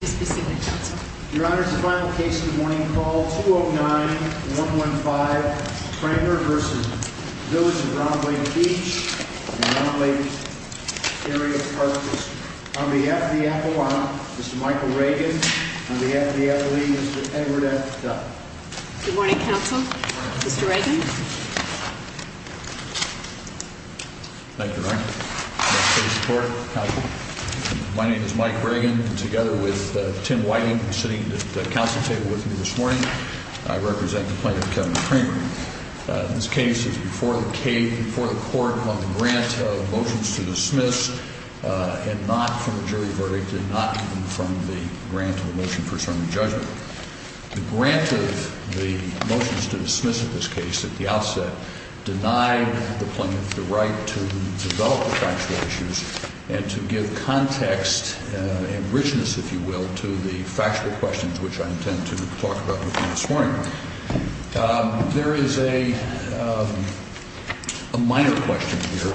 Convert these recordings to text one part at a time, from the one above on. and the Round Lake Area Park District. On behalf of the Avalon, Mr. Michael Reagan. On behalf of the Athlete, Mr. Edward F. Duck. Good morning, Council. Mr. Reagan. Thank you, Your Honor. My name is Mike Reagan, and together with Tim Whiting, who is sitting at the Council table with me this morning, I represent the plaintiff, Kevin Kramer. This case is before the court on the grant of motions to dismiss, and not from a jury verdict, and not even from the grant of a motion for certain judgment. The grant of the motions to dismiss of this case at the outset denied the plaintiff the right to develop the factual issues and to give context and richness, if you will, to the factual questions which I intend to talk about with you this morning. There is a minor question here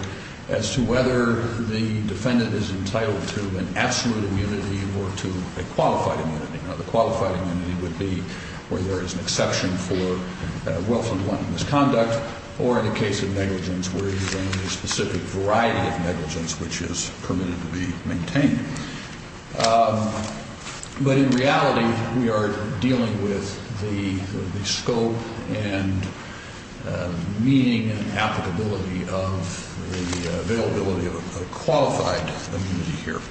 as to whether the defendant is entitled to an absolute immunity or to a qualified immunity. Now, the qualified immunity would be where there is an exception for welfare-involved misconduct, or in the case of negligence, where there is a specific variety of negligence which is permitted to be maintained. But in reality, we are dealing with the scope and meaning and applicability of the availability of a qualified immunity here.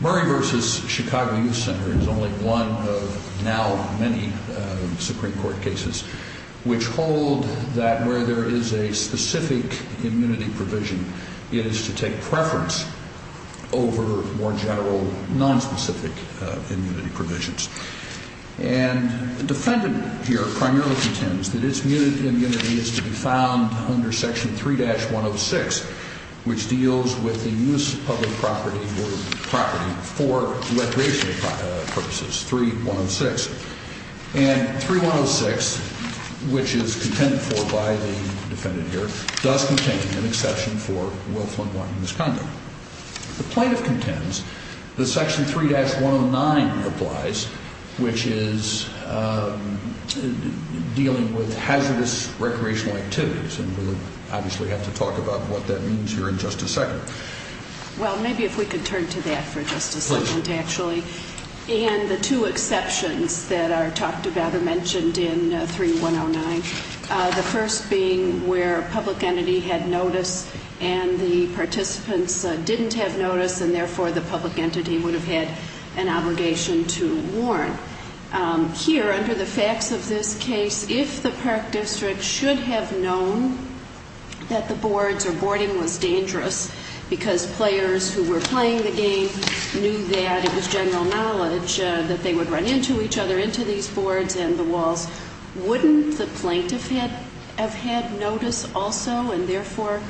Murray v. Chicago Youth Center is only one of now many Supreme Court cases which hold that where there is a specific immunity provision, it is to take preference over more general, nonspecific immunity provisions. And the defendant here primarily contends that its immunity is to be found under Section 3-106, which deals with the use of public property for recreational purposes, 3-106. And 3-106, which is contended for by the defendant here, does contain an exception for welfare-involved misconduct. The plaintiff contends that Section 3-109 applies, which is dealing with hazardous recreational activities, and we'll obviously have to talk about what that means here in just a second. Well, maybe if we could turn to that for just a second actually. And the two exceptions that are talked about or mentioned in 3-109, the first being where a public entity had notice and the participants didn't have notice and therefore the public entity would have had an obligation to warn. Here, under the facts of this case, if the Park District should have known that the boards or boarding was dangerous because players who were playing the game knew that it was general knowledge that they would run into each other, into these boards and the walls, wouldn't the plaintiff have had notice also and therefore?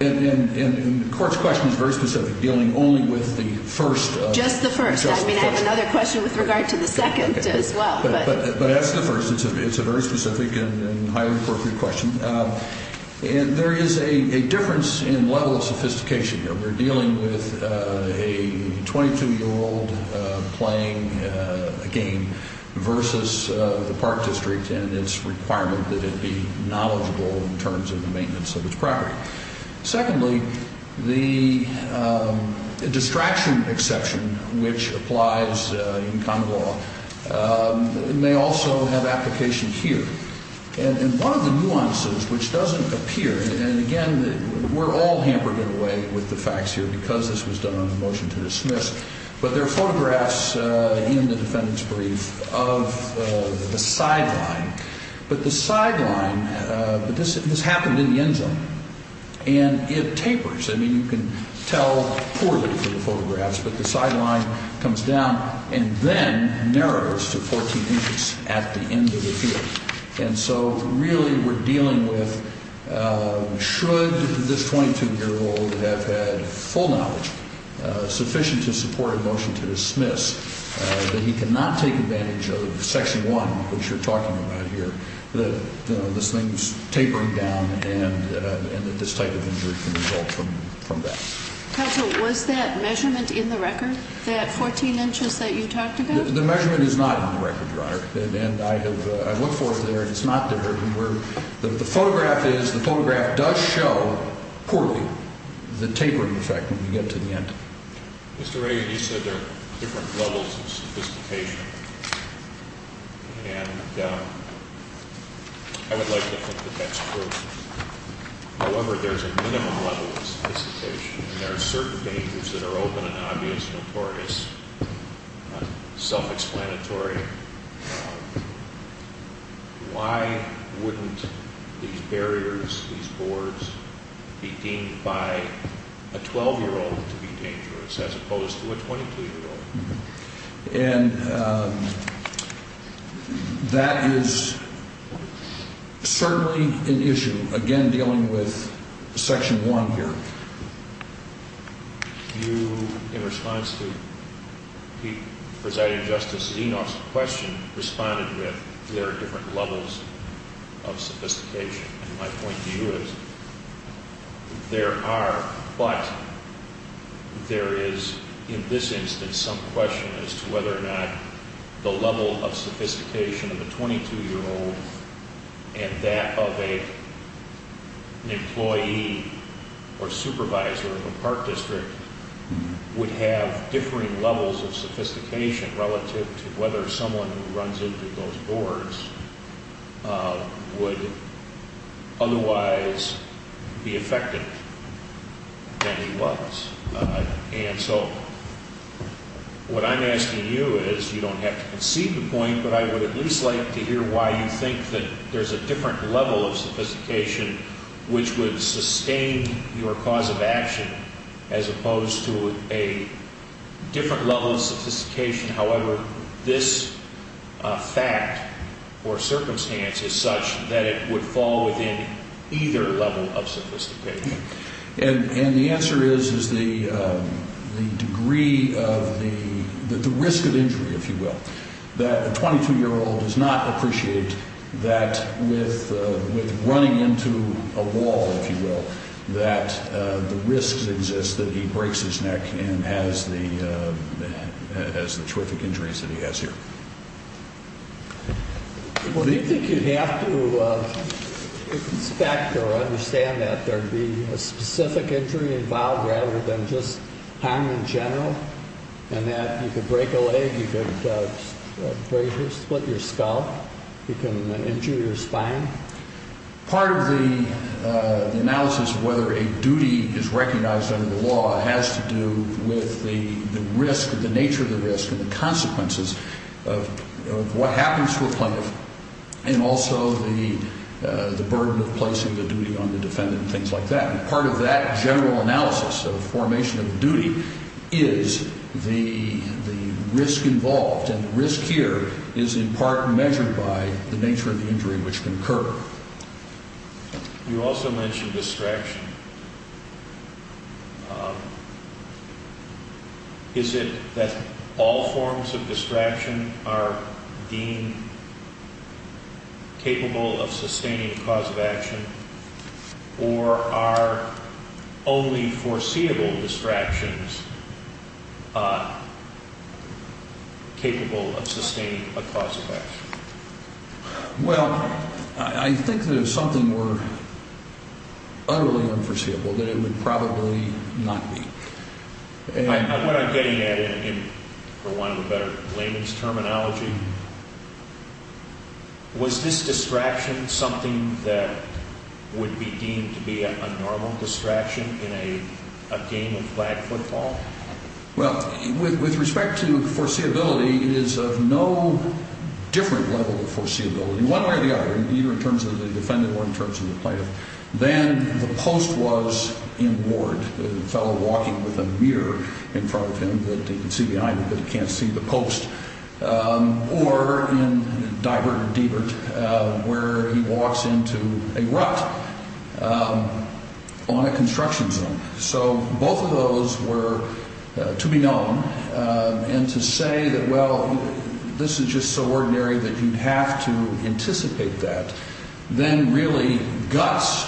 And the court's question is very specific, dealing only with the first. Just the first. Just the first. I mean, I have another question with regard to the second as well. But that's the first. It's a very specific and highly appropriate question. And there is a difference in level of sophistication here. We're dealing with a 22-year-old playing a game versus the Park District and its requirement that it be knowledgeable in terms of the maintenance of its property. Secondly, the distraction exception, which applies in common law, may also have application here. And one of the nuances which doesn't appear, and again, we're all hampered in a way with the facts here because this was done on a motion to dismiss, but there are photographs in the defendant's brief of the sideline. But the sideline, this happened in the end zone. And it tapers. I mean, you can tell poorly from the photographs, but the sideline comes down and then narrows to 14 inches at the end of the field. And so really we're dealing with should this 22-year-old have had full knowledge, sufficient to support a motion to dismiss, that he cannot take advantage of Section 1, which you're talking about here, that this thing's tapering down and that this type of injury can result from that. Counsel, was that measurement in the record, that 14 inches that you talked about? The measurement is not in the record, Your Honor. And I look for it there, and it's not there. The photograph is, the photograph does show poorly the tapering effect when you get to the end. Mr. Reagan, you said there are different levels of sophistication, and I would like to think that that's true. However, there's a minimum level of sophistication, and there are certain dangers that are open and obvious and notorious, self-explanatory. Why wouldn't these barriers, these boards be deemed by a 12-year-old to be dangerous as opposed to a 22-year-old? And that is certainly an issue, again, dealing with Section 1 here. You, in response to Presiding Justice Zenos' question, responded with, there are different levels of sophistication. And my point to you is, there are, but there is, in this instance, some question as to whether or not the level of sophistication of a 22-year-old and that of an employee or supervisor of a park district would have differing levels of sophistication relative to whether someone who runs into those boards would otherwise be affected than he was. And so, what I'm asking you is, you don't have to concede the point, but I would at least like to hear why you think that there's a different level of sophistication which would sustain your cause of action as opposed to a different level of sophistication. However, this fact or circumstance is such that it would fall within either level of sophistication. And the answer is the degree of the risk of injury, if you will, that a 22-year-old does not appreciate that with running into a wall, if you will, that the risk exists that he breaks his neck and has the terrific injuries that he has here. Well, do you think you'd have to inspect or understand that there'd be a specific injury involved rather than just harm in general, and that you could break a leg, you could break or split your skull, you can injure your spine? Part of the analysis of whether a duty is recognized under the law has to do with the risk, the nature of the risk and the consequences of what happens to a plaintiff and also the burden of placing the duty on the defendant and things like that. And part of that general analysis of formation of duty is the risk involved. And the risk here is in part measured by the nature of the injury which can occur. You also mentioned distraction. Is it that all forms of distraction are deemed capable of sustaining a cause of action, or are only foreseeable distractions capable of sustaining a cause of action? Well, I think there's something more utterly unforeseeable than it would probably not be. What I'm getting at, for want of a better layman's terminology, was this distraction something that would be deemed to be a normal distraction in a game of flag football? Well, with respect to foreseeability, it is of no different level of foreseeability, one way or the other, either in terms of the defendant or in terms of the plaintiff. Then the post was in ward, the fellow walking with a mirror in front of him that he can see behind him, but he can't see the post, or in divert, where he walks into a rut on a construction zone. So both of those were to be known. And to say that, well, this is just so ordinary that you'd have to anticipate that, then really guts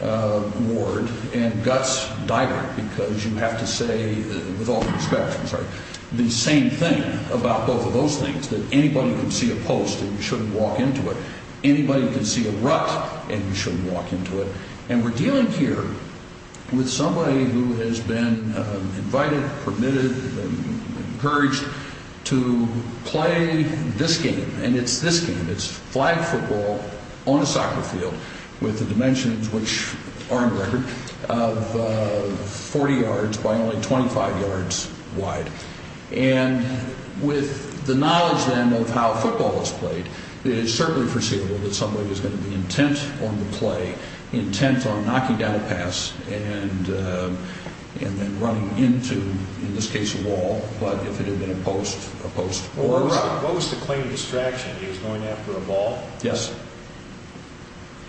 ward and guts diver, because you have to say, with all due respect, I'm sorry, the same thing about both of those things, that anybody can see a post and you shouldn't walk into it. Anybody can see a rut and you shouldn't walk into it. And we're dealing here with somebody who has been invited, permitted, encouraged to play this game, and it's this game. It's flag football on a soccer field with the dimensions, which are on record, of 40 yards by only 25 yards wide. And with the knowledge, then, of how football is played, it is certainly foreseeable that somebody is going to be intent on the play, intent on knocking down a pass, and then running into, in this case, a wall, but if it had been a post, a post or a rut. What was the claim of distraction? He was going after a ball? Yes.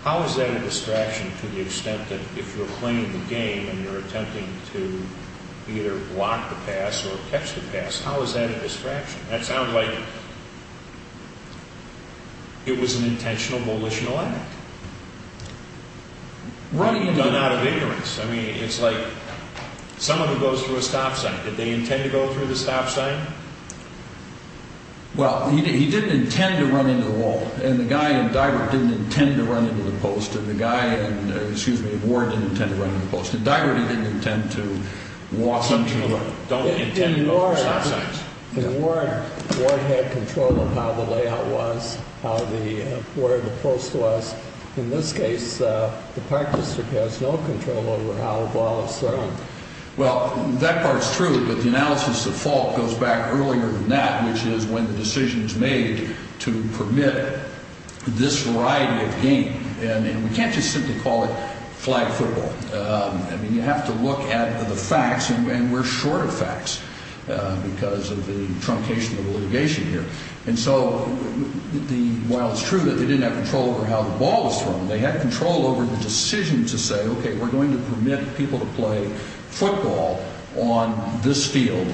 How is that a distraction to the extent that if you're playing the game and you're attempting to either block the pass or catch the pass, how is that a distraction? That sounds like it was an intentional, volitional act. Running into it. Done out of ignorance. I mean, it's like someone who goes through a stop sign. Did they intend to go through the stop sign? Well, he didn't intend to run into the wall, and the guy in Divert didn't intend to run into the post, and the guy in Ward didn't intend to run into the post. In Divert, he didn't intend to walk into the wall. Some people don't intend to go through stop signs. In Ward, Ward had control of how the layout was, where the post was. In this case, the Park District has no control over how the ball is thrown. Well, that part's true, but the analysis of fault goes back earlier than that, which is when the decision is made to permit this variety of game, and we can't just simply call it flag football. I mean, you have to look at the facts, and we're short of facts because of the truncation of the litigation here. And so while it's true that they didn't have control over how the ball was thrown, they had control over the decision to say, okay, we're going to permit people to play football on this field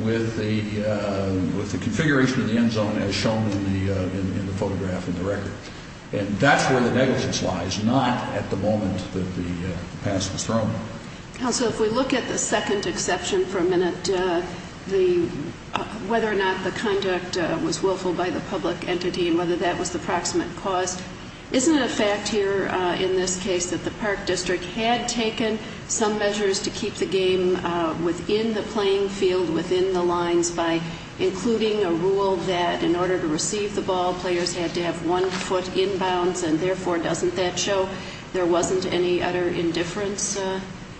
with the configuration of the end zone as shown in the photograph and the record. And that's where the negligence lies, not at the moment that the pass was thrown. Counsel, if we look at the second exception for a minute, whether or not the conduct was willful by the public entity and whether that was the proximate cause, isn't it a fact here in this case that the Park District had taken some measures to keep the game within the playing field, within the lines, by including a rule that in order to receive the ball, players had to have one foot inbounds, and therefore doesn't that show there wasn't any utter indifference?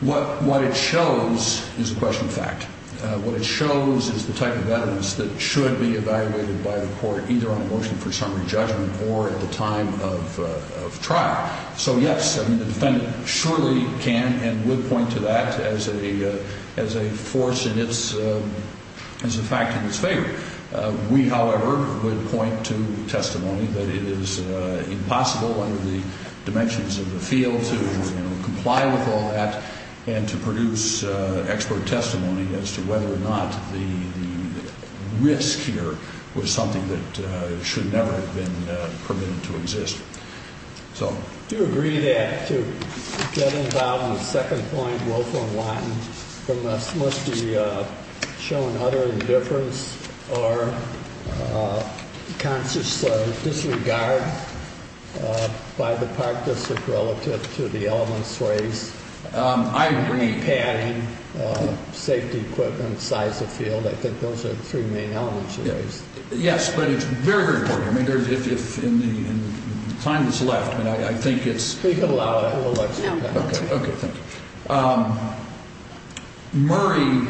What it shows is a question of fact. What it shows is the type of evidence that should be evaluated by the court, either on a motion for summary judgment or at the time of trial. So, yes, the defendant surely can and would point to that as a force in its, as a fact in its favor. We, however, would point to testimony that it is impossible under the dimensions of the field to comply with all that and to produce expert testimony as to whether or not the risk here was something that should never have been permitted to exist. Do you agree that to get involved in the second point, willful and wanton, must be shown utter indifference or conscious disregard by the Park District relative to the elements raised? I agree. Padding, safety equipment, size of field, I think those are the three main elements you raised. Yes, but it's very, very important. I mean, if in the time that's left, I mean, I think it's… You can allow it. No. Okay. Okay, thank you. Murray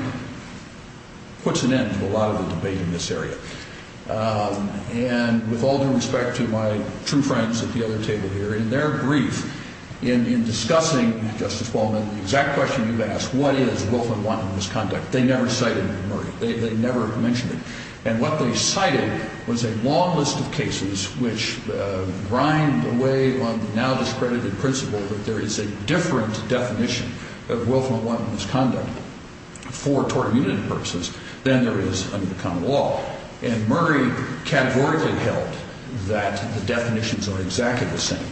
puts an end to a lot of the debate in this area. And with all due respect to my true friends at the other table here, in their brief in discussing, Justice Baldwin, the exact question you've asked, what is willful and wanton misconduct, they never cited Murray. They never mentioned it. And what they cited was a long list of cases which grind away on the now discredited principle that there is a different definition of willful and wanton misconduct for tort immunity purposes than there is under common law. And Murray categorically held that the definitions are exactly the same.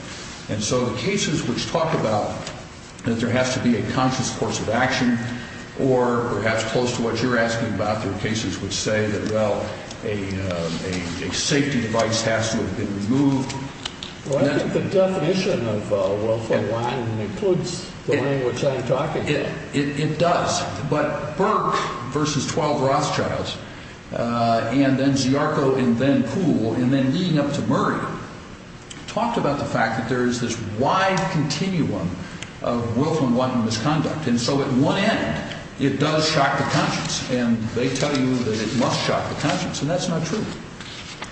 And so the cases which talk about that there has to be a conscious course of action or perhaps close to what you're asking about, there are cases which say that, well, a safety device has to have been removed. Well, I think the definition of willful and wanton includes the language I'm talking about. It does. But Burke versus 12 Rothschilds and then Ziarko and then Poole and then leading up to Murray talked about the fact that there is this wide continuum of willful and wanton misconduct. And so at one end, it does shock the conscience. And they tell you that it must shock the conscience. And that's not true.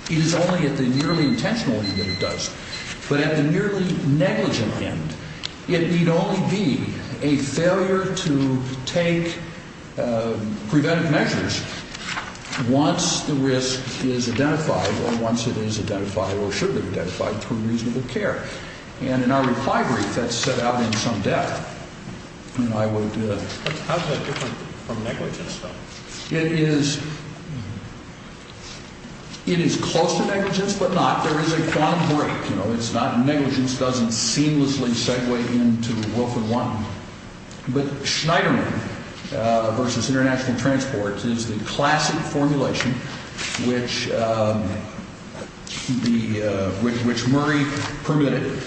It is only at the nearly intentional end that it does. But at the nearly negligent end, it need only be a failure to take preventive measures once the risk is identified or once it is identified or should be identified through reasonable care. And in our reply brief, that's set out in some depth. How is that different from negligence though? It is close to negligence but not. There is a quantum break. Negligence doesn't seamlessly segue into willful and wanton. But Schneiderman versus international transport is the classic formulation which Murray permitted.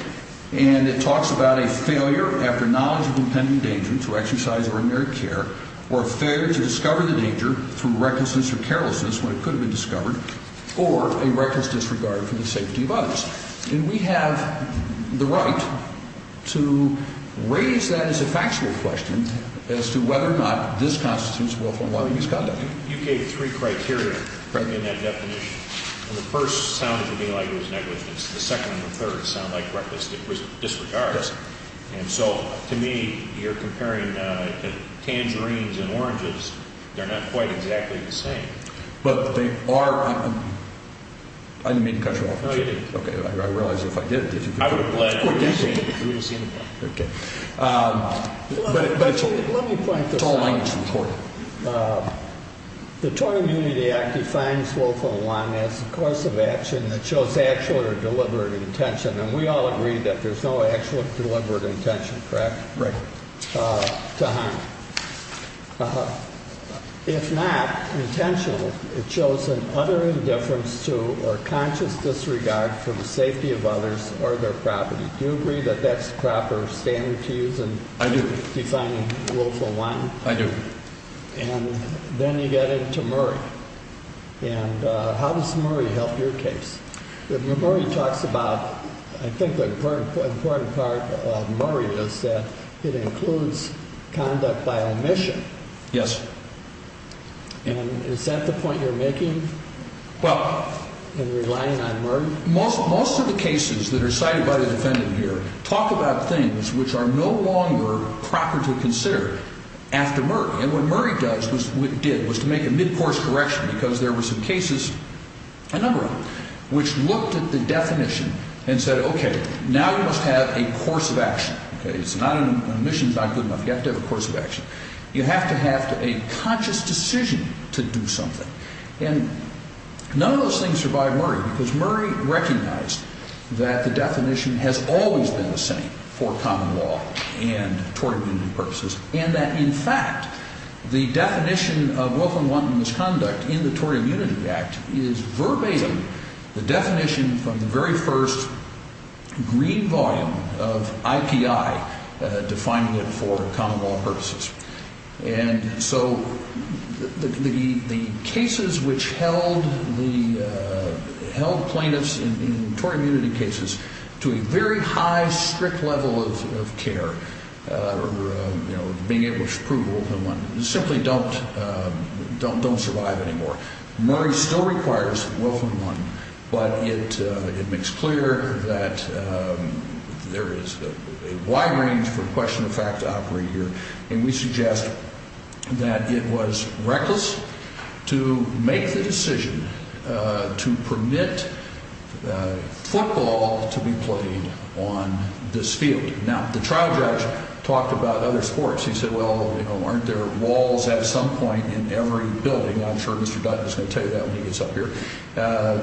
And it talks about a failure after knowledge of impending danger to exercise ordinary care or failure to discover the danger through recklessness or carelessness when it could have been discovered or a reckless disregard for the safety of others. And we have the right to raise that as a factual question as to whether or not this constitutes willful and wanton misconduct. You gave three criteria in that definition. The first sounded to me like it was negligence. The second and the third sound like reckless disregard. And so to me, you're comparing tangerines and oranges. They're not quite exactly the same. But they are. I didn't mean to cut you off. No, you didn't. Okay, I realize if I did, did you? I would have bled. Okay. Let me point this out. The Tort Immunity Act defines willful and wanton as the course of action that shows actual or deliberate intention. And we all agree that there's no actual or deliberate intention, correct, to harm. If not intentional, it shows an utter indifference to or conscious disregard for the safety of others or their property. Do you agree that that's the proper standard to use in defining willful and wanton? I do. And then you get into Murray. And how does Murray help your case? Murray talks about, I think the important part of Murray is that it includes conduct by omission. Yes. And is that the point you're making in relying on Murray? Most of the cases that are cited by the defendant here talk about things which are no longer proper to consider after Murray. And what Murray did was to make a mid-course correction because there were some cases, a number of them, which looked at the definition and said, Okay, now you must have a course of action. Okay, omission is not good enough. You have to have a course of action. You have to have a conscious decision to do something. And none of those things survive Murray because Murray recognized that the definition has always been the same for common law and tort immunity purposes. And that, in fact, the definition of willful and wanton misconduct in the Tort Immunity Act is verbatim the definition from the very first green volume of IPI defining it for common law purposes. And so the cases which held plaintiffs in tort immunity cases to a very high, strict level of care, you know, being able to prove willful and wanton, simply don't survive anymore. Murray still requires willful and wanton, but it makes clear that there is a wide range for question of fact to operate here. And we suggest that it was reckless to make the decision to permit football to be played on this field. Now, the trial judge talked about other sports. He said, well, aren't there walls at some point in every building? I'm sure Mr. Dutton is going to tell you that when he gets up here.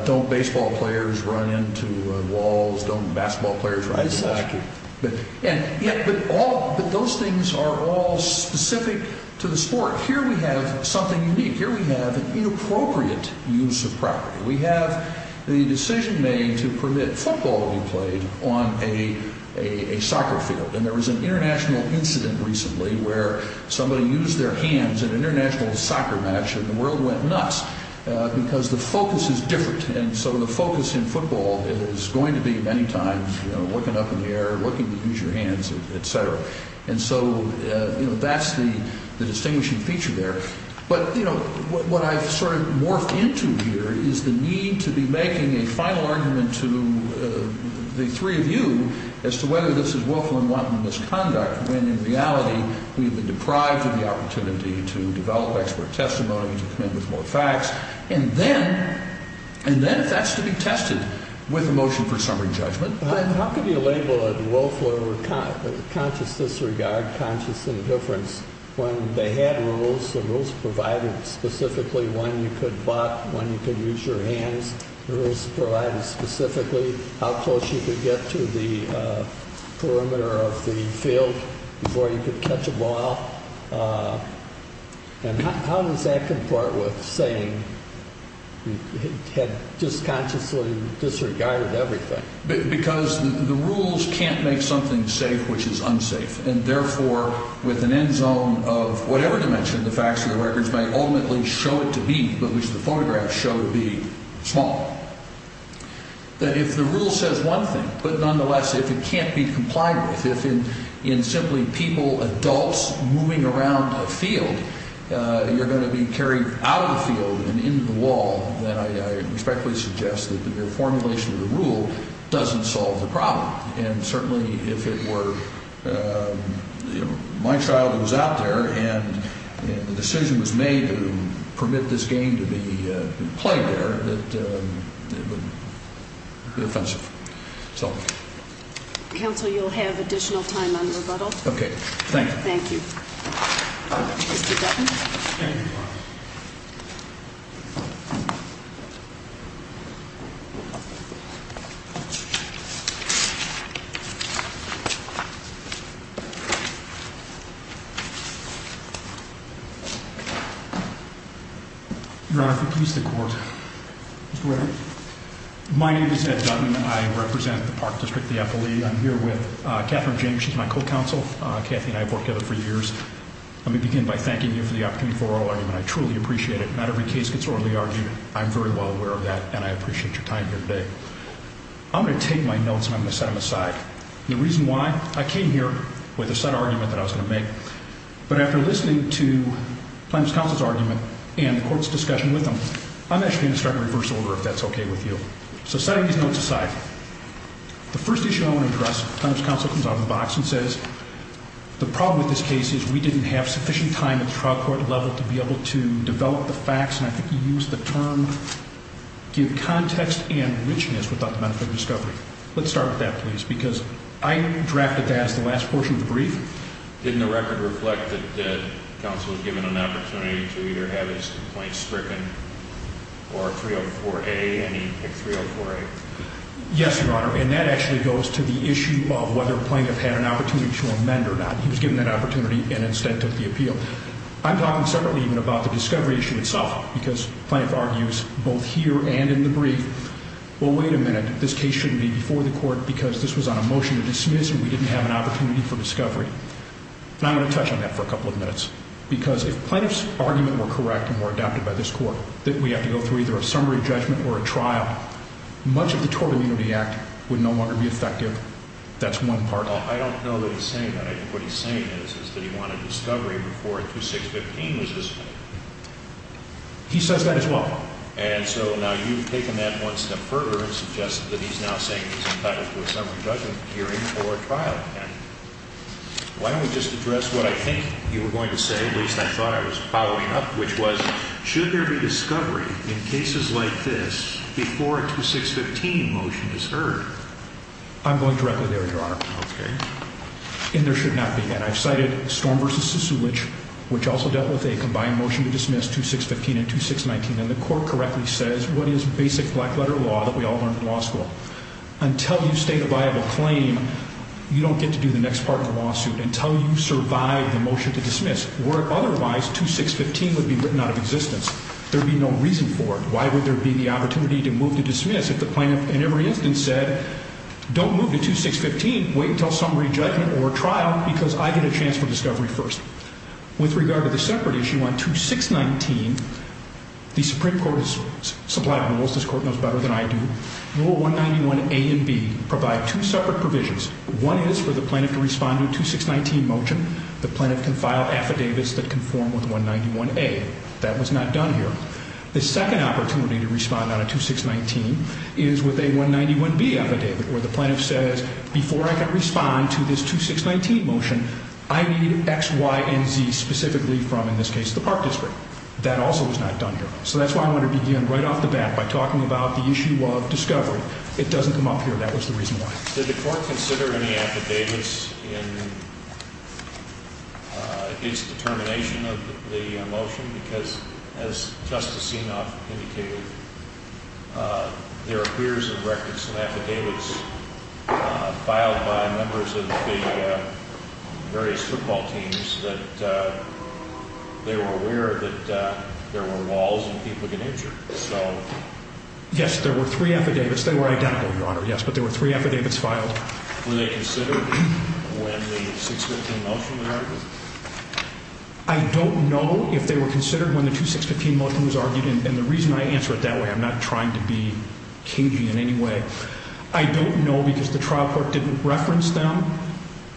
Don't baseball players run into walls? Don't basketball players run into walls? Exactly. But those things are all specific to the sport. Here we have something unique. Here we have an inappropriate use of property. We have the decision made to permit football to be played on a soccer field. And there was an international incident recently where somebody used their hands at an international soccer match, and the world went nuts because the focus is different. And so the focus in football is going to be many times looking up in the air, looking to use your hands, et cetera. And so that's the distinguishing feature there. But what I've sort of morphed into here is the need to be making a final argument to the three of you as to whether this is willful and wanton misconduct, when in reality we've been deprived of the opportunity to develop expert testimony, to come in with more facts. And then if that's to be tested with a motion for summary judgment. How can you label a willful or conscious disregard, conscious indifference, when they had rules, the rules provided specifically when you could butt, when you could use your hands. The rules provided specifically how close you could get to the perimeter of the field before you could catch a ball. And how does that comport with saying you had just consciously disregarded everything? Because the rules can't make something safe which is unsafe. And therefore, with an end zone of whatever dimension the facts of the records may ultimately show it to be, but which the photographs show to be, small. If the rule says one thing, but nonetheless if it can't be complied with, if in simply people, adults, moving around a field, you're going to be carried out of the field and into the wall, then I respectfully suggest that the formulation of the rule doesn't solve the problem. And certainly if it were my child who was out there and the decision was made to permit this game to be played there, it would be offensive. So. Counsel, you'll have additional time on rebuttal. Thank you. Mr. Dutton. Thank you. Your Honor, if you'll please the court. My name is Ed Dutton. I represent the Park District of the FLE. I'm here with Catherine James. She's my co-counsel. Cathy and I have worked together for years. Let me begin by thanking you for the opportunity for oral argument. I truly appreciate it. Not every case gets orally argued. I'm very well aware of that and I appreciate your time here today. I'm going to take my notes and I'm going to set them aside. The reason why, I came here with a set argument that I was going to make. But after listening to Plaintiff's counsel's argument and the court's discussion with them, I'm actually going to start a reverse order if that's okay with you. So setting these notes aside. The first issue I want to address, Plaintiff's counsel comes out of the box and says, the problem with this case is we didn't have sufficient time at the trial court level to be able to develop the facts, and I think you used the term, give context and richness without the benefit of discovery. Let's start with that, please, because I drafted that as the last portion of the brief. Didn't the record reflect that counsel was given an opportunity to either have his complaint stricken or 304A, and he picked 304A? Yes, Your Honor, and that actually goes to the issue of whether Plaintiff had an opportunity to amend or not. He was given that opportunity and instead took the appeal. I'm talking separately even about the discovery issue itself because Plaintiff argues both here and in the brief, well, wait a minute, this case shouldn't be before the court because this was on a motion to dismiss and we didn't have an opportunity for discovery. And I'm going to touch on that for a couple of minutes. Because if Plaintiff's argument were correct and were adopted by this court that we have to go through either a summary judgment or a trial, much of the tort immunity act would no longer be effective. That's one part of it. I don't know that he's saying that. I think what he's saying is that he wanted discovery before 2615 was dismissed. He says that as well. And so now you've taken that one step further and suggested that he's now saying he's entitled to a summary judgment hearing or trial. Why don't we just address what I think you were going to say, at least I thought I was following up, which was should there be discovery in cases like this before a 2615 motion is heard? I'm going directly there, Your Honor. Okay. And there should not be. And I've cited Storm v. Sisolich, which also dealt with a combined motion to dismiss 2615 and 2619. And the court correctly says what is basic black-letter law that we all learned in law school? Until you state a viable claim, you don't get to do the next part of the lawsuit until you survive the motion to dismiss. Where otherwise 2615 would be written out of existence. There would be no reason for it. Why would there be the opportunity to move to dismiss if the plaintiff in every instance said, don't move to 2615, wait until summary judgment or trial because I get a chance for discovery first. With regard to the separate issue on 2619, the Supreme Court has supplied rules. This court knows better than I do. Rule 191A and B provide two separate provisions. One is for the plaintiff to respond to a 2619 motion. The plaintiff can file affidavits that conform with 191A. That was not done here. The second opportunity to respond on a 2619 is with a 191B affidavit where the plaintiff says, before I can respond to this 2619 motion, I need X, Y, and Z specifically from, in this case, the Park District. That also was not done here. So that's why I want to begin right off the bat by talking about the issue of discovery. It doesn't come up here. That was the reason why. Did the court consider any affidavits in its determination of the motion? Because, as Justice Senoff indicated, there appears in records some affidavits filed by members of the various football teams that they were aware that there were walls and people get injured. Yes, there were three affidavits. They were identical, Your Honor, yes. But there were three affidavits filed. Were they considered when the 2615 motion was argued? I don't know if they were considered when the 2615 motion was argued. And the reason I answer it that way, I'm not trying to be kinky in any way. I don't know because the trial court didn't reference them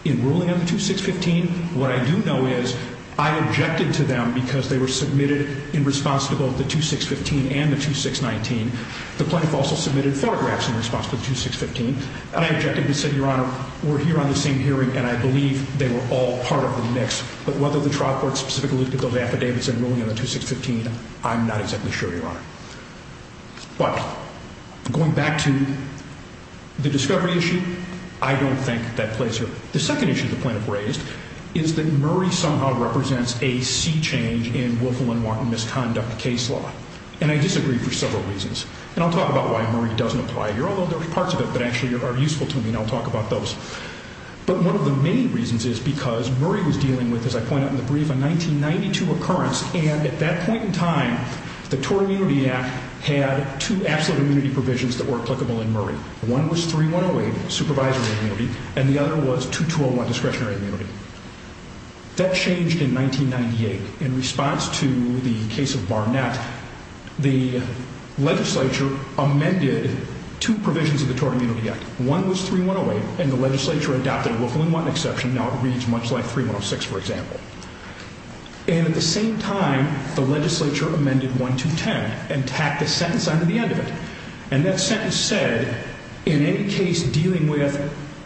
in ruling on the 2615. What I do know is I objected to them because they were submitted in response to both the 2615 and the 2619. The plaintiff also submitted photographs in response to the 2615. And I objected and said, Your Honor, we're here on the same hearing, and I believe they were all part of the mix. But whether the trial court specifically looked at those affidavits in ruling on the 2615, I'm not exactly sure, Your Honor. But going back to the discovery issue, I don't think that plays here. The second issue the plaintiff raised is that Murray somehow represents a sea change in Wilkelin-Martin misconduct case law. And I disagree for several reasons. And I'll talk about why Murray doesn't apply here, although there's parts of it that actually are useful to me, and I'll talk about those. But one of the main reasons is because Murray was dealing with, as I point out in the brief, a 1992 occurrence. And at that point in time, the Tort Immunity Act had two absolute immunity provisions that were applicable in Murray. One was 3108, supervisory immunity, and the other was 2201, discretionary immunity. That changed in 1998. In response to the case of Barnett, the legislature amended two provisions of the Tort Immunity Act. One was 3108, and the legislature adopted a Wilkelin-Martin exception. Now it reads much like 3106, for example. And at the same time, the legislature amended 1210 and tacked a sentence onto the end of it. And that sentence said, in any case dealing with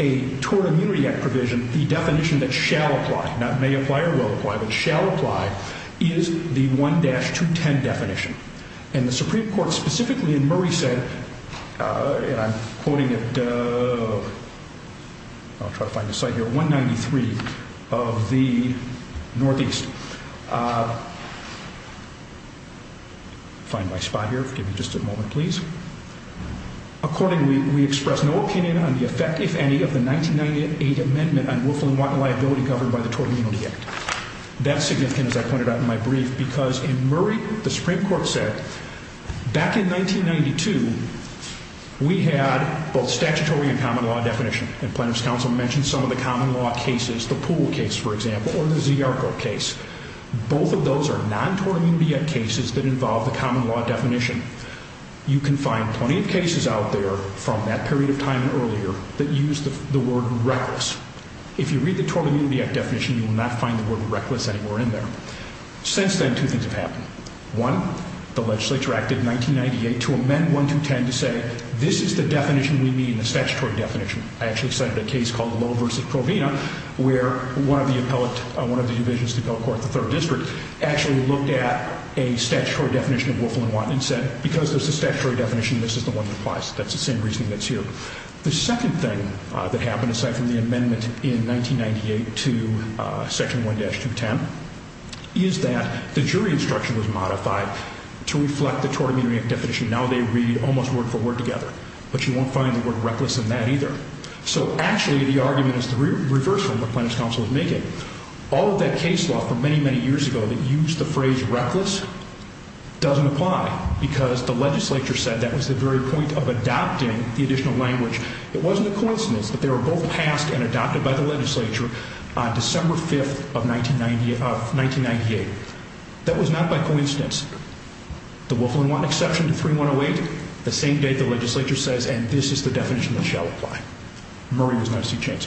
a Tort Immunity Act provision, the definition that shall apply, not may apply or will apply, but shall apply, is the 1-210 definition. And the Supreme Court specifically in Murray said, and I'm quoting it, I'll try to find the site here, 193 of the Northeast. Find my spot here, give me just a moment, please. Accordingly, we express no opinion on the effect, if any, of the 1998 amendment on Wilkelin-Martin liability covered by the Tort Immunity Act. That's significant, as I pointed out in my brief, because in Murray, the Supreme Court said, back in 1992, we had both statutory and common law definition. And Plaintiff's Counsel mentioned some of the common law cases, the Poole case, for example, or the Ziarko case. Both of those are non-Tort Immunity Act cases that involve the common law definition. You can find plenty of cases out there from that period of time earlier that use the word reckless. If you read the Tort Immunity Act definition, you will not find the word reckless anywhere in there. Since then, two things have happened. One, the legislature acted in 1998 to amend 1-210 to say, this is the definition we need in the statutory definition. I actually cited a case called Lowe v. Provena, where one of the appellate, one of the divisions of the appellate court, the third district, actually looked at a statutory definition of Wilkelin-Martin and said, because there's a statutory definition, this is the one that applies. That's the same reasoning that's here. The second thing that happened, aside from the amendment in 1998 to Section 1-210, is that the jury instruction was modified to reflect the Tort Immunity Act definition. Now they read almost word for word together. But you won't find the word reckless in that either. So actually, the argument is the reverse of what Plaintiff's Counsel is making. All of that case law from many, many years ago that used the phrase reckless doesn't apply, because the legislature said that was the very point of adopting the additional language. It wasn't a coincidence that they were both passed and adopted by the legislature on December 5th of 1998. That was not by coincidence. The Wilkelin-Martin exception to 3-108, the same day the legislature says, and this is the definition that shall apply. Murray was not a seat change.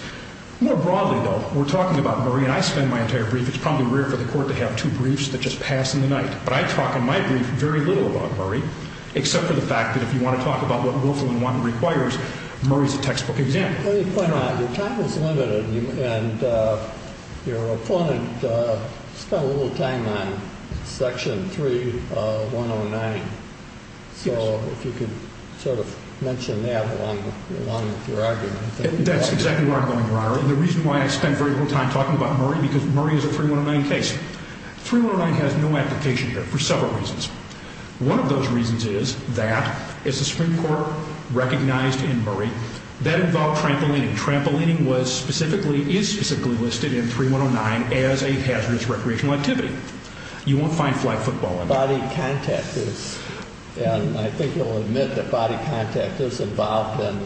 More broadly, though, we're talking about Murray, and I spend my entire brief, it's probably rare for the court to have two briefs that just pass in the night. But I talk in my brief very little about Murray, except for the fact that if you want to talk about what Wilkelin-Martin requires, Murray's a textbook example. Let me point out, your time is limited, and your opponent spent a little time on Section 3-109. So if you could sort of mention that along with your argument. That's exactly where I'm going, Your Honor. The reason why I spent very little time talking about Murray, because Murray is a 3-109 case. 3-109 has no application here for several reasons. One of those reasons is that, as the Supreme Court recognized in Murray, that involved trampolining. Trampolining is specifically listed in 3-109 as a hazardous recreational activity. You won't find flag football in it. Body contact is, and I think you'll admit that body contact is involved in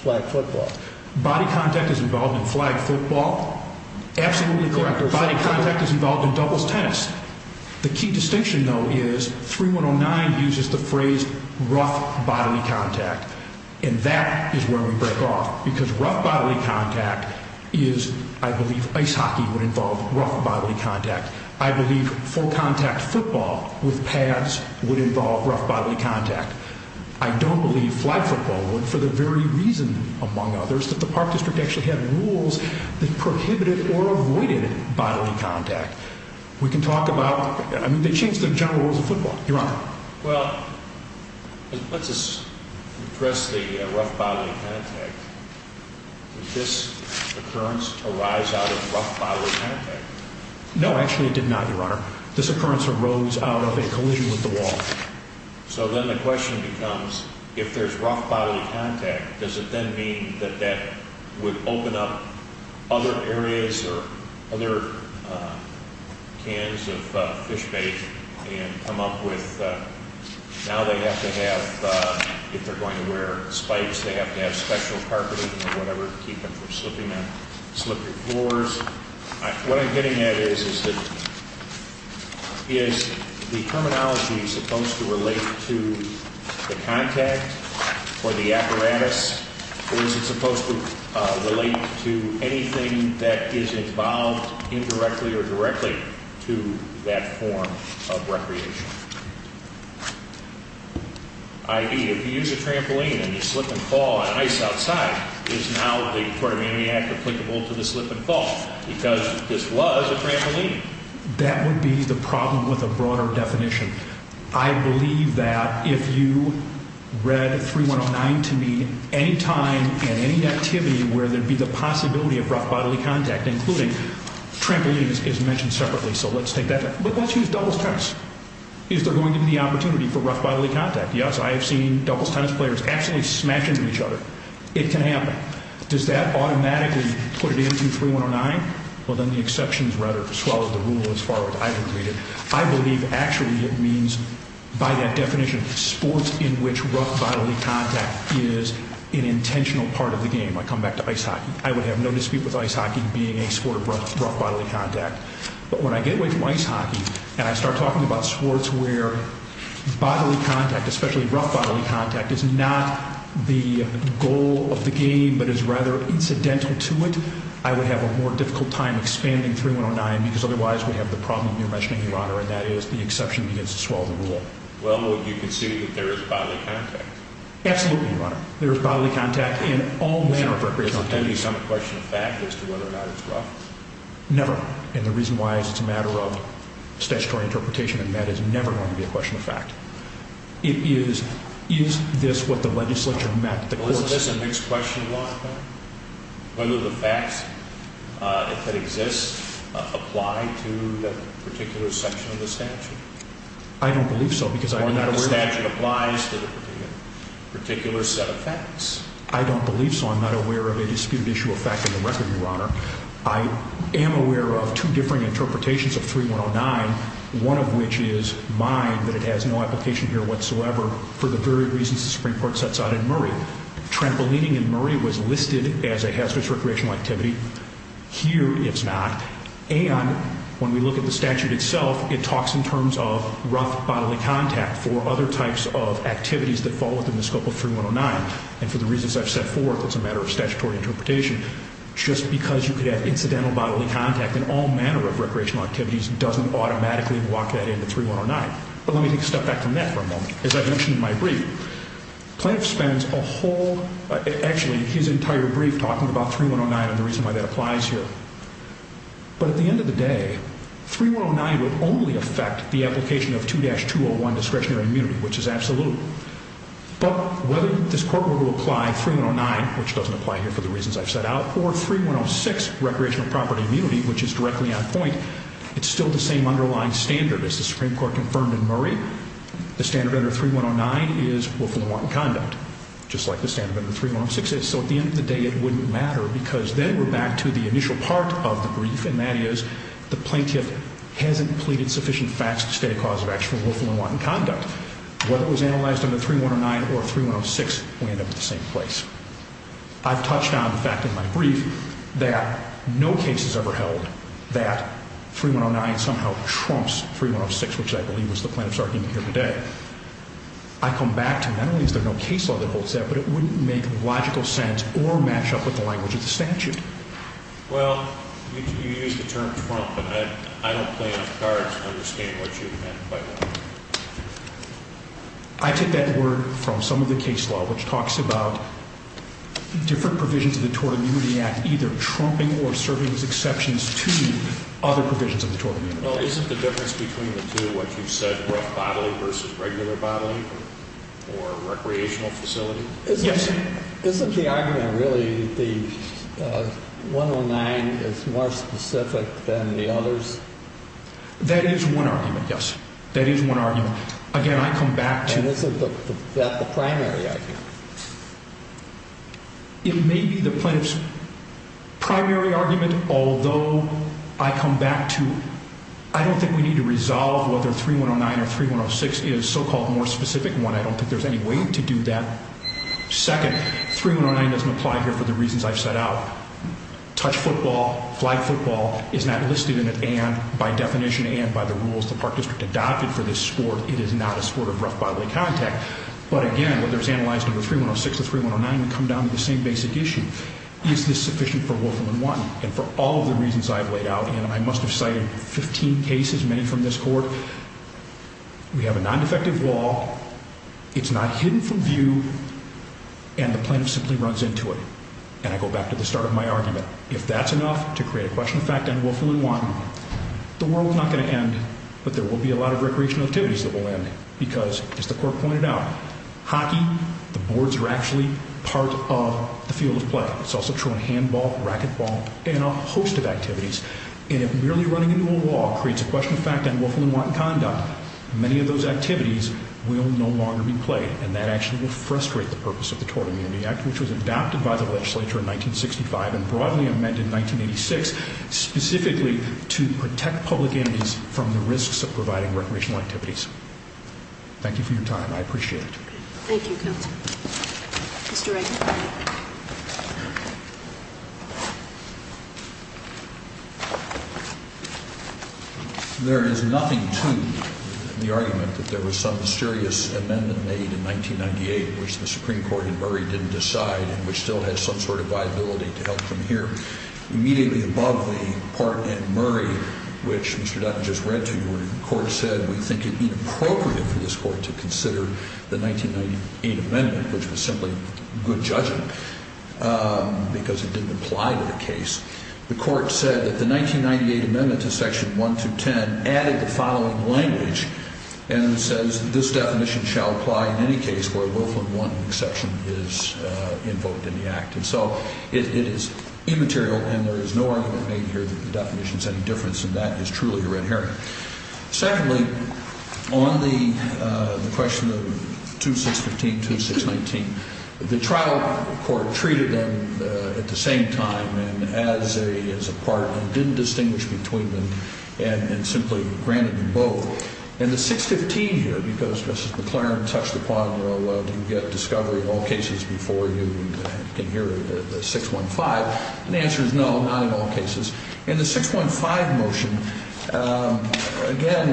flag football. Body contact is involved in flag football? Absolutely correct. Body contact is involved in doubles tennis. The key distinction, though, is 3-109 uses the phrase rough bodily contact. And that is where we break off. Because rough bodily contact is, I believe, ice hockey would involve rough bodily contact. I believe full contact football with pads would involve rough bodily contact. I don't believe flag football would, for the very reason, among others, that the Park District actually had rules that prohibited or avoided bodily contact. We can talk about, I mean, they changed the general rules of football, Your Honor. Well, let's address the rough bodily contact. Did this occurrence arise out of rough bodily contact? No, actually it did not, Your Honor. This occurrence arose out of a collision with the wall. So then the question becomes, if there's rough bodily contact, does it then mean that that would open up other areas or other cans of fish bait and come up with, now they have to have, if they're going to wear spikes, they have to have special carpeting or whatever to keep them from slipping on slippery floors. What I'm getting at is, is the terminology supposed to relate to the contact or the apparatus, or is it supposed to relate to anything that is involved indirectly or directly to that form of recreation? I.e., if you use a trampoline and you slip and fall on ice outside, is now the Court of Amendment Act applicable to the slip and fall? Because this was a trampoline. That would be the problem with a broader definition. I believe that if you read 3109 to me, any time and any activity where there'd be the possibility of rough bodily contact, including trampolines is mentioned separately, so let's take that. But let's use doubles tennis. Is there going to be the opportunity for rough bodily contact? Yes, I have seen doubles tennis players absolutely smash into each other. It can happen. Does that automatically put it into 3109? Well, then the exceptions rather, as well as the rule as far as I can read it. I believe actually it means, by that definition, sports in which rough bodily contact is an intentional part of the game. I come back to ice hockey. I would have no dispute with ice hockey being a sport of rough bodily contact. But when I get away from ice hockey and I start talking about sports where bodily contact, especially rough bodily contact, is not the goal of the game but is rather incidental to it, I would have a more difficult time expanding 3109 because otherwise we'd have the problem you're mentioning, Your Honor, and that is the exception begins to swallow the rule. Well, would you concede that there is bodily contact? Absolutely, Your Honor. There is bodily contact in all manner of recreational activities. Is that a question of fact as to whether or not it's rough? Never. And the reason why is it's a matter of statutory interpretation, and that is never going to be a question of fact. It is, is this what the legislature met the courts? Well, isn't this a mixed question of law? Whether the facts that exist apply to the particular section of the statute? I don't believe so because I'm not aware of it. Or whether the statute applies to the particular set of facts. I don't believe so. I'm not aware of a disputed issue of fact in the record, Your Honor. I am aware of two different interpretations of 3109, one of which is mine, that it has no application here whatsoever for the very reasons the Supreme Court sets out in Murray. Trampolining in Murray was listed as a hazardous recreational activity. Here it's not. And when we look at the statute itself, it talks in terms of rough bodily contact for other types of activities that fall within the scope of 3109. And for the reasons I've set forth, it's a matter of statutory interpretation. Just because you could have incidental bodily contact in all manner of recreational activities doesn't automatically walk that into 3109. But let me take a step back from that for a moment. As I mentioned in my brief, Plaintiff spends a whole, actually his entire brief talking about 3109 and the reason why that applies here. But at the end of the day, 3109 would only affect the application of 2-201 discretionary immunity, which is absolute. But whether this court were to apply 3109, which doesn't apply here for the reasons I've set out, or 3106, recreational property immunity, which is directly on point, it's still the same underlying standard. As the Supreme Court confirmed in Murray, the standard under 3109 is willful and wanton conduct, just like the standard under 3106 is. So at the end of the day, it wouldn't matter because then we're back to the initial part of the brief, and that is the Plaintiff hasn't pleaded sufficient facts to state a cause of actual willful and wanton conduct. Whether it was analyzed under 3109 or 3106, we end up at the same place. I've touched on the fact in my brief that no case has ever held that 3109 somehow trumps 3106, which I believe was the Plaintiff's argument here today. I come back to not only is there no case law that holds that, but it wouldn't make logical sense or match up with the language of the statute. Well, you used the term trump, and I don't play off cards to understand what you meant by that. I take that word from some of the case law, which talks about different provisions of the Tort Immunity Act either trumping or serving as exceptions to other provisions of the Tort Immunity Act. Well, isn't the difference between the two what you said, rough bodily versus regular bodily, or recreational facility? Yes. Isn't the argument really the 109 is more specific than the others? That is one argument, yes. That is one argument. Again, I come back to— And isn't that the primary argument? It may be the Plaintiff's primary argument, although I come back to I don't think we need to resolve whether 3109 or 3106 is a so-called more specific one. I don't think there's any way to do that. Second, 3109 doesn't apply here for the reasons I've set out. Touch football, flag football is not listed in it, and by definition and by the rules the Park District adopted for this sport, it is not a sport of rough bodily contact. But again, whether it's analyzed under 3106 or 3109, we come down to the same basic issue. Is this sufficient for Wolfram I? And for all of the reasons I've laid out, and I must have cited 15 cases, many from this court, we have a non-defective wall, it's not hidden from view, and the plaintiff simply runs into it. And I go back to the start of my argument. If that's enough to create a question of fact on Wolfram I, the world's not going to end, but there will be a lot of recreational activities that will end because, as the court pointed out, hockey, the boards are actually part of the field of play. It's also true in handball, racquetball, and a host of activities. And if merely running into a wall creates a question of fact on Wolfram I and Condon, many of those activities will no longer be played, and that actually will frustrate the purpose of the Tort Immunity Act, which was adopted by the legislature in 1965 and broadly amended in 1986 specifically to protect public entities from the risks of providing recreational activities. Thank you for your time. I appreciate it. Thank you, counsel. Mr. Reagan. There is nothing to the argument that there was some mysterious amendment made in 1998 which the Supreme Court in Murray didn't decide and which still has some sort of viability to help from here. Immediately above the part in Murray which Mr. Dutton just read to you where the court said we think it inappropriate for this court to consider the 1998 amendment, which was simply good judgment because it didn't apply to the case, the court said that the 1998 amendment to Section 1210 added the following language and says this definition shall apply in any case where Wolfram I exception is invoked in the act. And so it is immaterial and there is no argument made here that the definition is any different, and that is truly a red herring. Secondly, on the question of 2615, 2619, the trial court treated them at the same time and as a part and didn't distinguish between them and simply granted them both. And the 615 here, because Mrs. McLaren touched upon it real well, you get discovery of all cases before you can hear the 615, and the answer is no, not in all cases. And the 615 motion, again,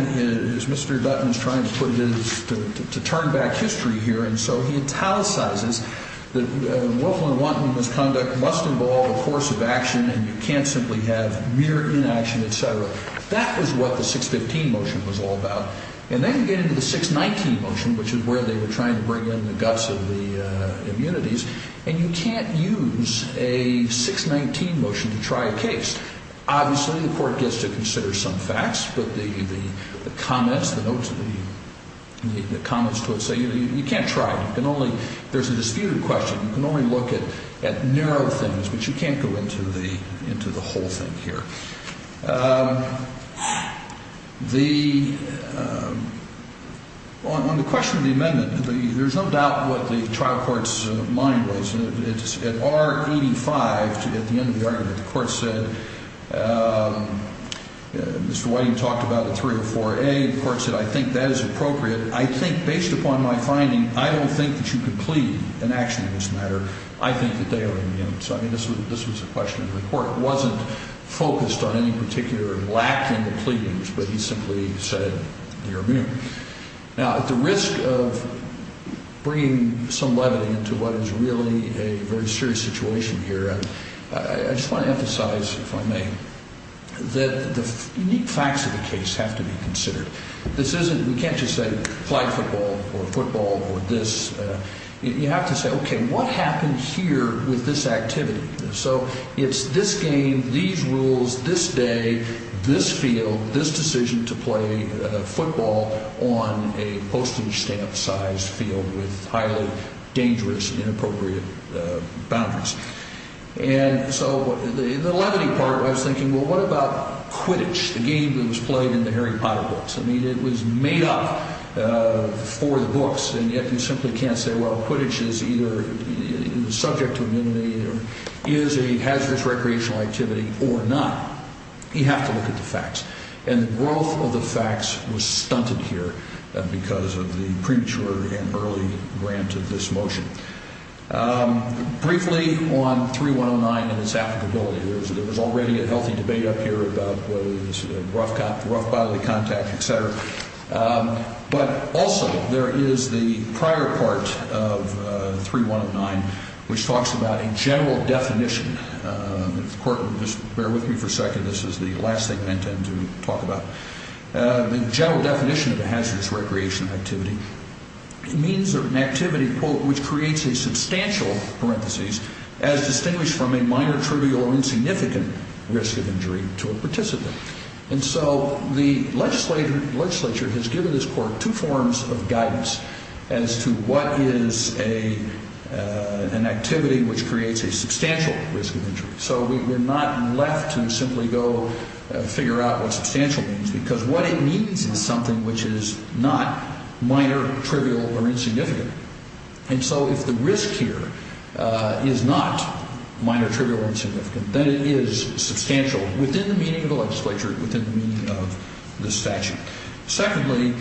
as Mr. Dutton is trying to put it, is to turn back history here, and so he italicizes that Wolfram I misconduct must involve a course of action and you can't simply have mere inaction, et cetera. That was what the 615 motion was all about. And then you get into the 619 motion, which is where they were trying to bring in the guts of the immunities, and you can't use a 619 motion to try a case. Obviously, the court gets to consider some facts, but the comments to it say you can't try. There's a disputed question. You can only look at narrow things, but you can't go into the whole thing here. On the question of the amendment, there's no doubt what the trial court's mind was. At R85, at the end of the argument, the court said, Mr. Whiting talked about a 304A. The court said, I think that is appropriate. I think, based upon my finding, I don't think that you could plead an action in this matter. I think that they are immune. So, I mean, this was a question of the court. It wasn't focused on any particular lack in the pleadings, but he simply said they are immune. Now, at the risk of bringing some levity into what is really a very serious situation here, I just want to emphasize, if I may, that the unique facts of the case have to be considered. We can't just say flag football or football or this. You have to say, okay, what happened here with this activity? So it's this game, these rules, this day, this field, this decision to play football on a postage stamp-sized field with highly dangerous, inappropriate boundaries. And so the levity part, I was thinking, well, what about Quidditch, the game that was played in the Harry Potter books? I mean, it was made up for the books, and yet you simply can't say, well, the subject of immunity is a hazardous recreational activity or not. You have to look at the facts. And the growth of the facts was stunted here because of the premature and early grant of this motion. Briefly on 3109 and its applicability, there was already a healthy debate up here about whether this was a rough bodily contact, et cetera. But also there is the prior part of 3109 which talks about a general definition. If the Court will just bear with me for a second, this is the last thing I intend to talk about. The general definition of a hazardous recreational activity means an activity, quote, which creates a substantial, parentheses, as distinguished from a minor, trivial, or insignificant risk of injury to a participant. And so the legislature has given this Court two forms of guidance as to what is an activity which creates a substantial risk of injury. So we're not left to simply go figure out what substantial means because what it means is something which is not minor, trivial, or insignificant. And so if the risk here is not minor, trivial, or insignificant, then it is substantial within the meaning of the legislature, within the meaning of the statute. Secondly,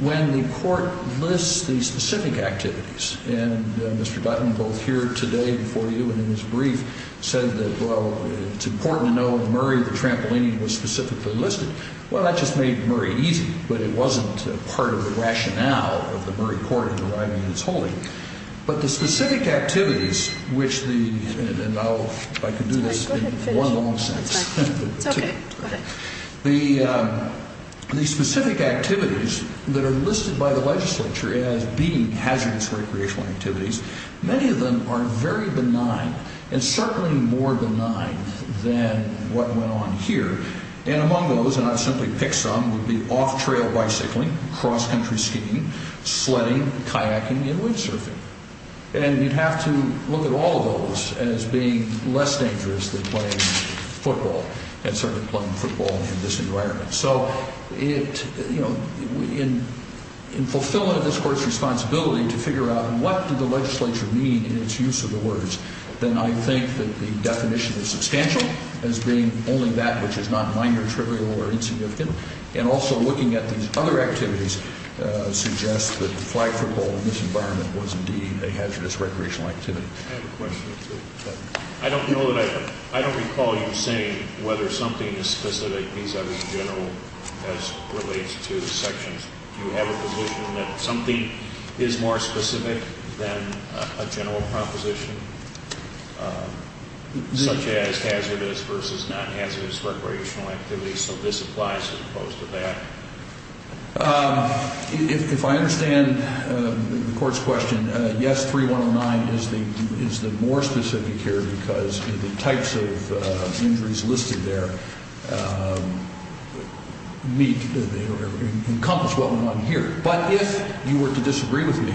when the Court lists the specific activities, and Mr. Dutton, both here today before you and in his brief, said that, well, it's important to know in Murray the trampolining was specifically listed. Well, that just made Murray easy, but it wasn't part of the rationale of the Murray Court in deriving its holding. But the specific activities which the, and I'll, if I can do this in one long sentence. It's okay, go ahead. The specific activities that are listed by the legislature as being hazardous recreational activities, many of them are very benign and certainly more benign than what went on here. And among those, and I've simply picked some, would be off-trail bicycling, cross-country skiing, sledding, kayaking, and windsurfing. And you'd have to look at all of those as being less dangerous than playing football, and certainly playing football in this environment. So it, you know, in fulfilling this Court's responsibility to figure out what did the legislature mean in its use of the words, then I think that the definition is substantial as being only that which is not minor, trivial, or insignificant. And also looking at these other activities suggests that flag football in this environment was indeed a hazardous recreational activity. I have a question. I don't know that I, I don't recall you saying whether something is specific vis-a-vis general as relates to sections. Do you have a position that something is more specific than a general proposition? Such as hazardous versus non-hazardous recreational activities, so this applies as opposed to that? If I understand the Court's question, yes, 3109 is the more specific here because the types of injuries listed there meet, encompass what went on here. But if you were to disagree with me,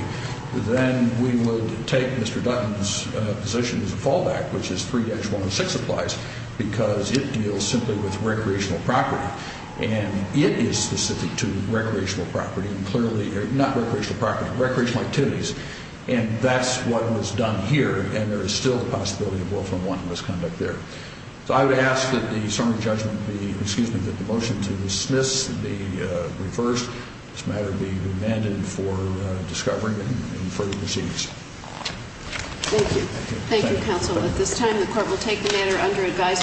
then we would take Mr. Dutton's position as a fallback, which is 3-106 applies, because it deals simply with recreational property, and it is specific to recreational property, and clearly, not recreational property, recreational activities. And that's what was done here, and there is still a possibility of willful and wanton misconduct there. So I would ask that the summary judgment be, excuse me, that the motion to dismiss be reversed. This matter be remanded for discovery and further proceedings. Thank you. Thank you, counsel. At this time, the Court will take the matter under advisory.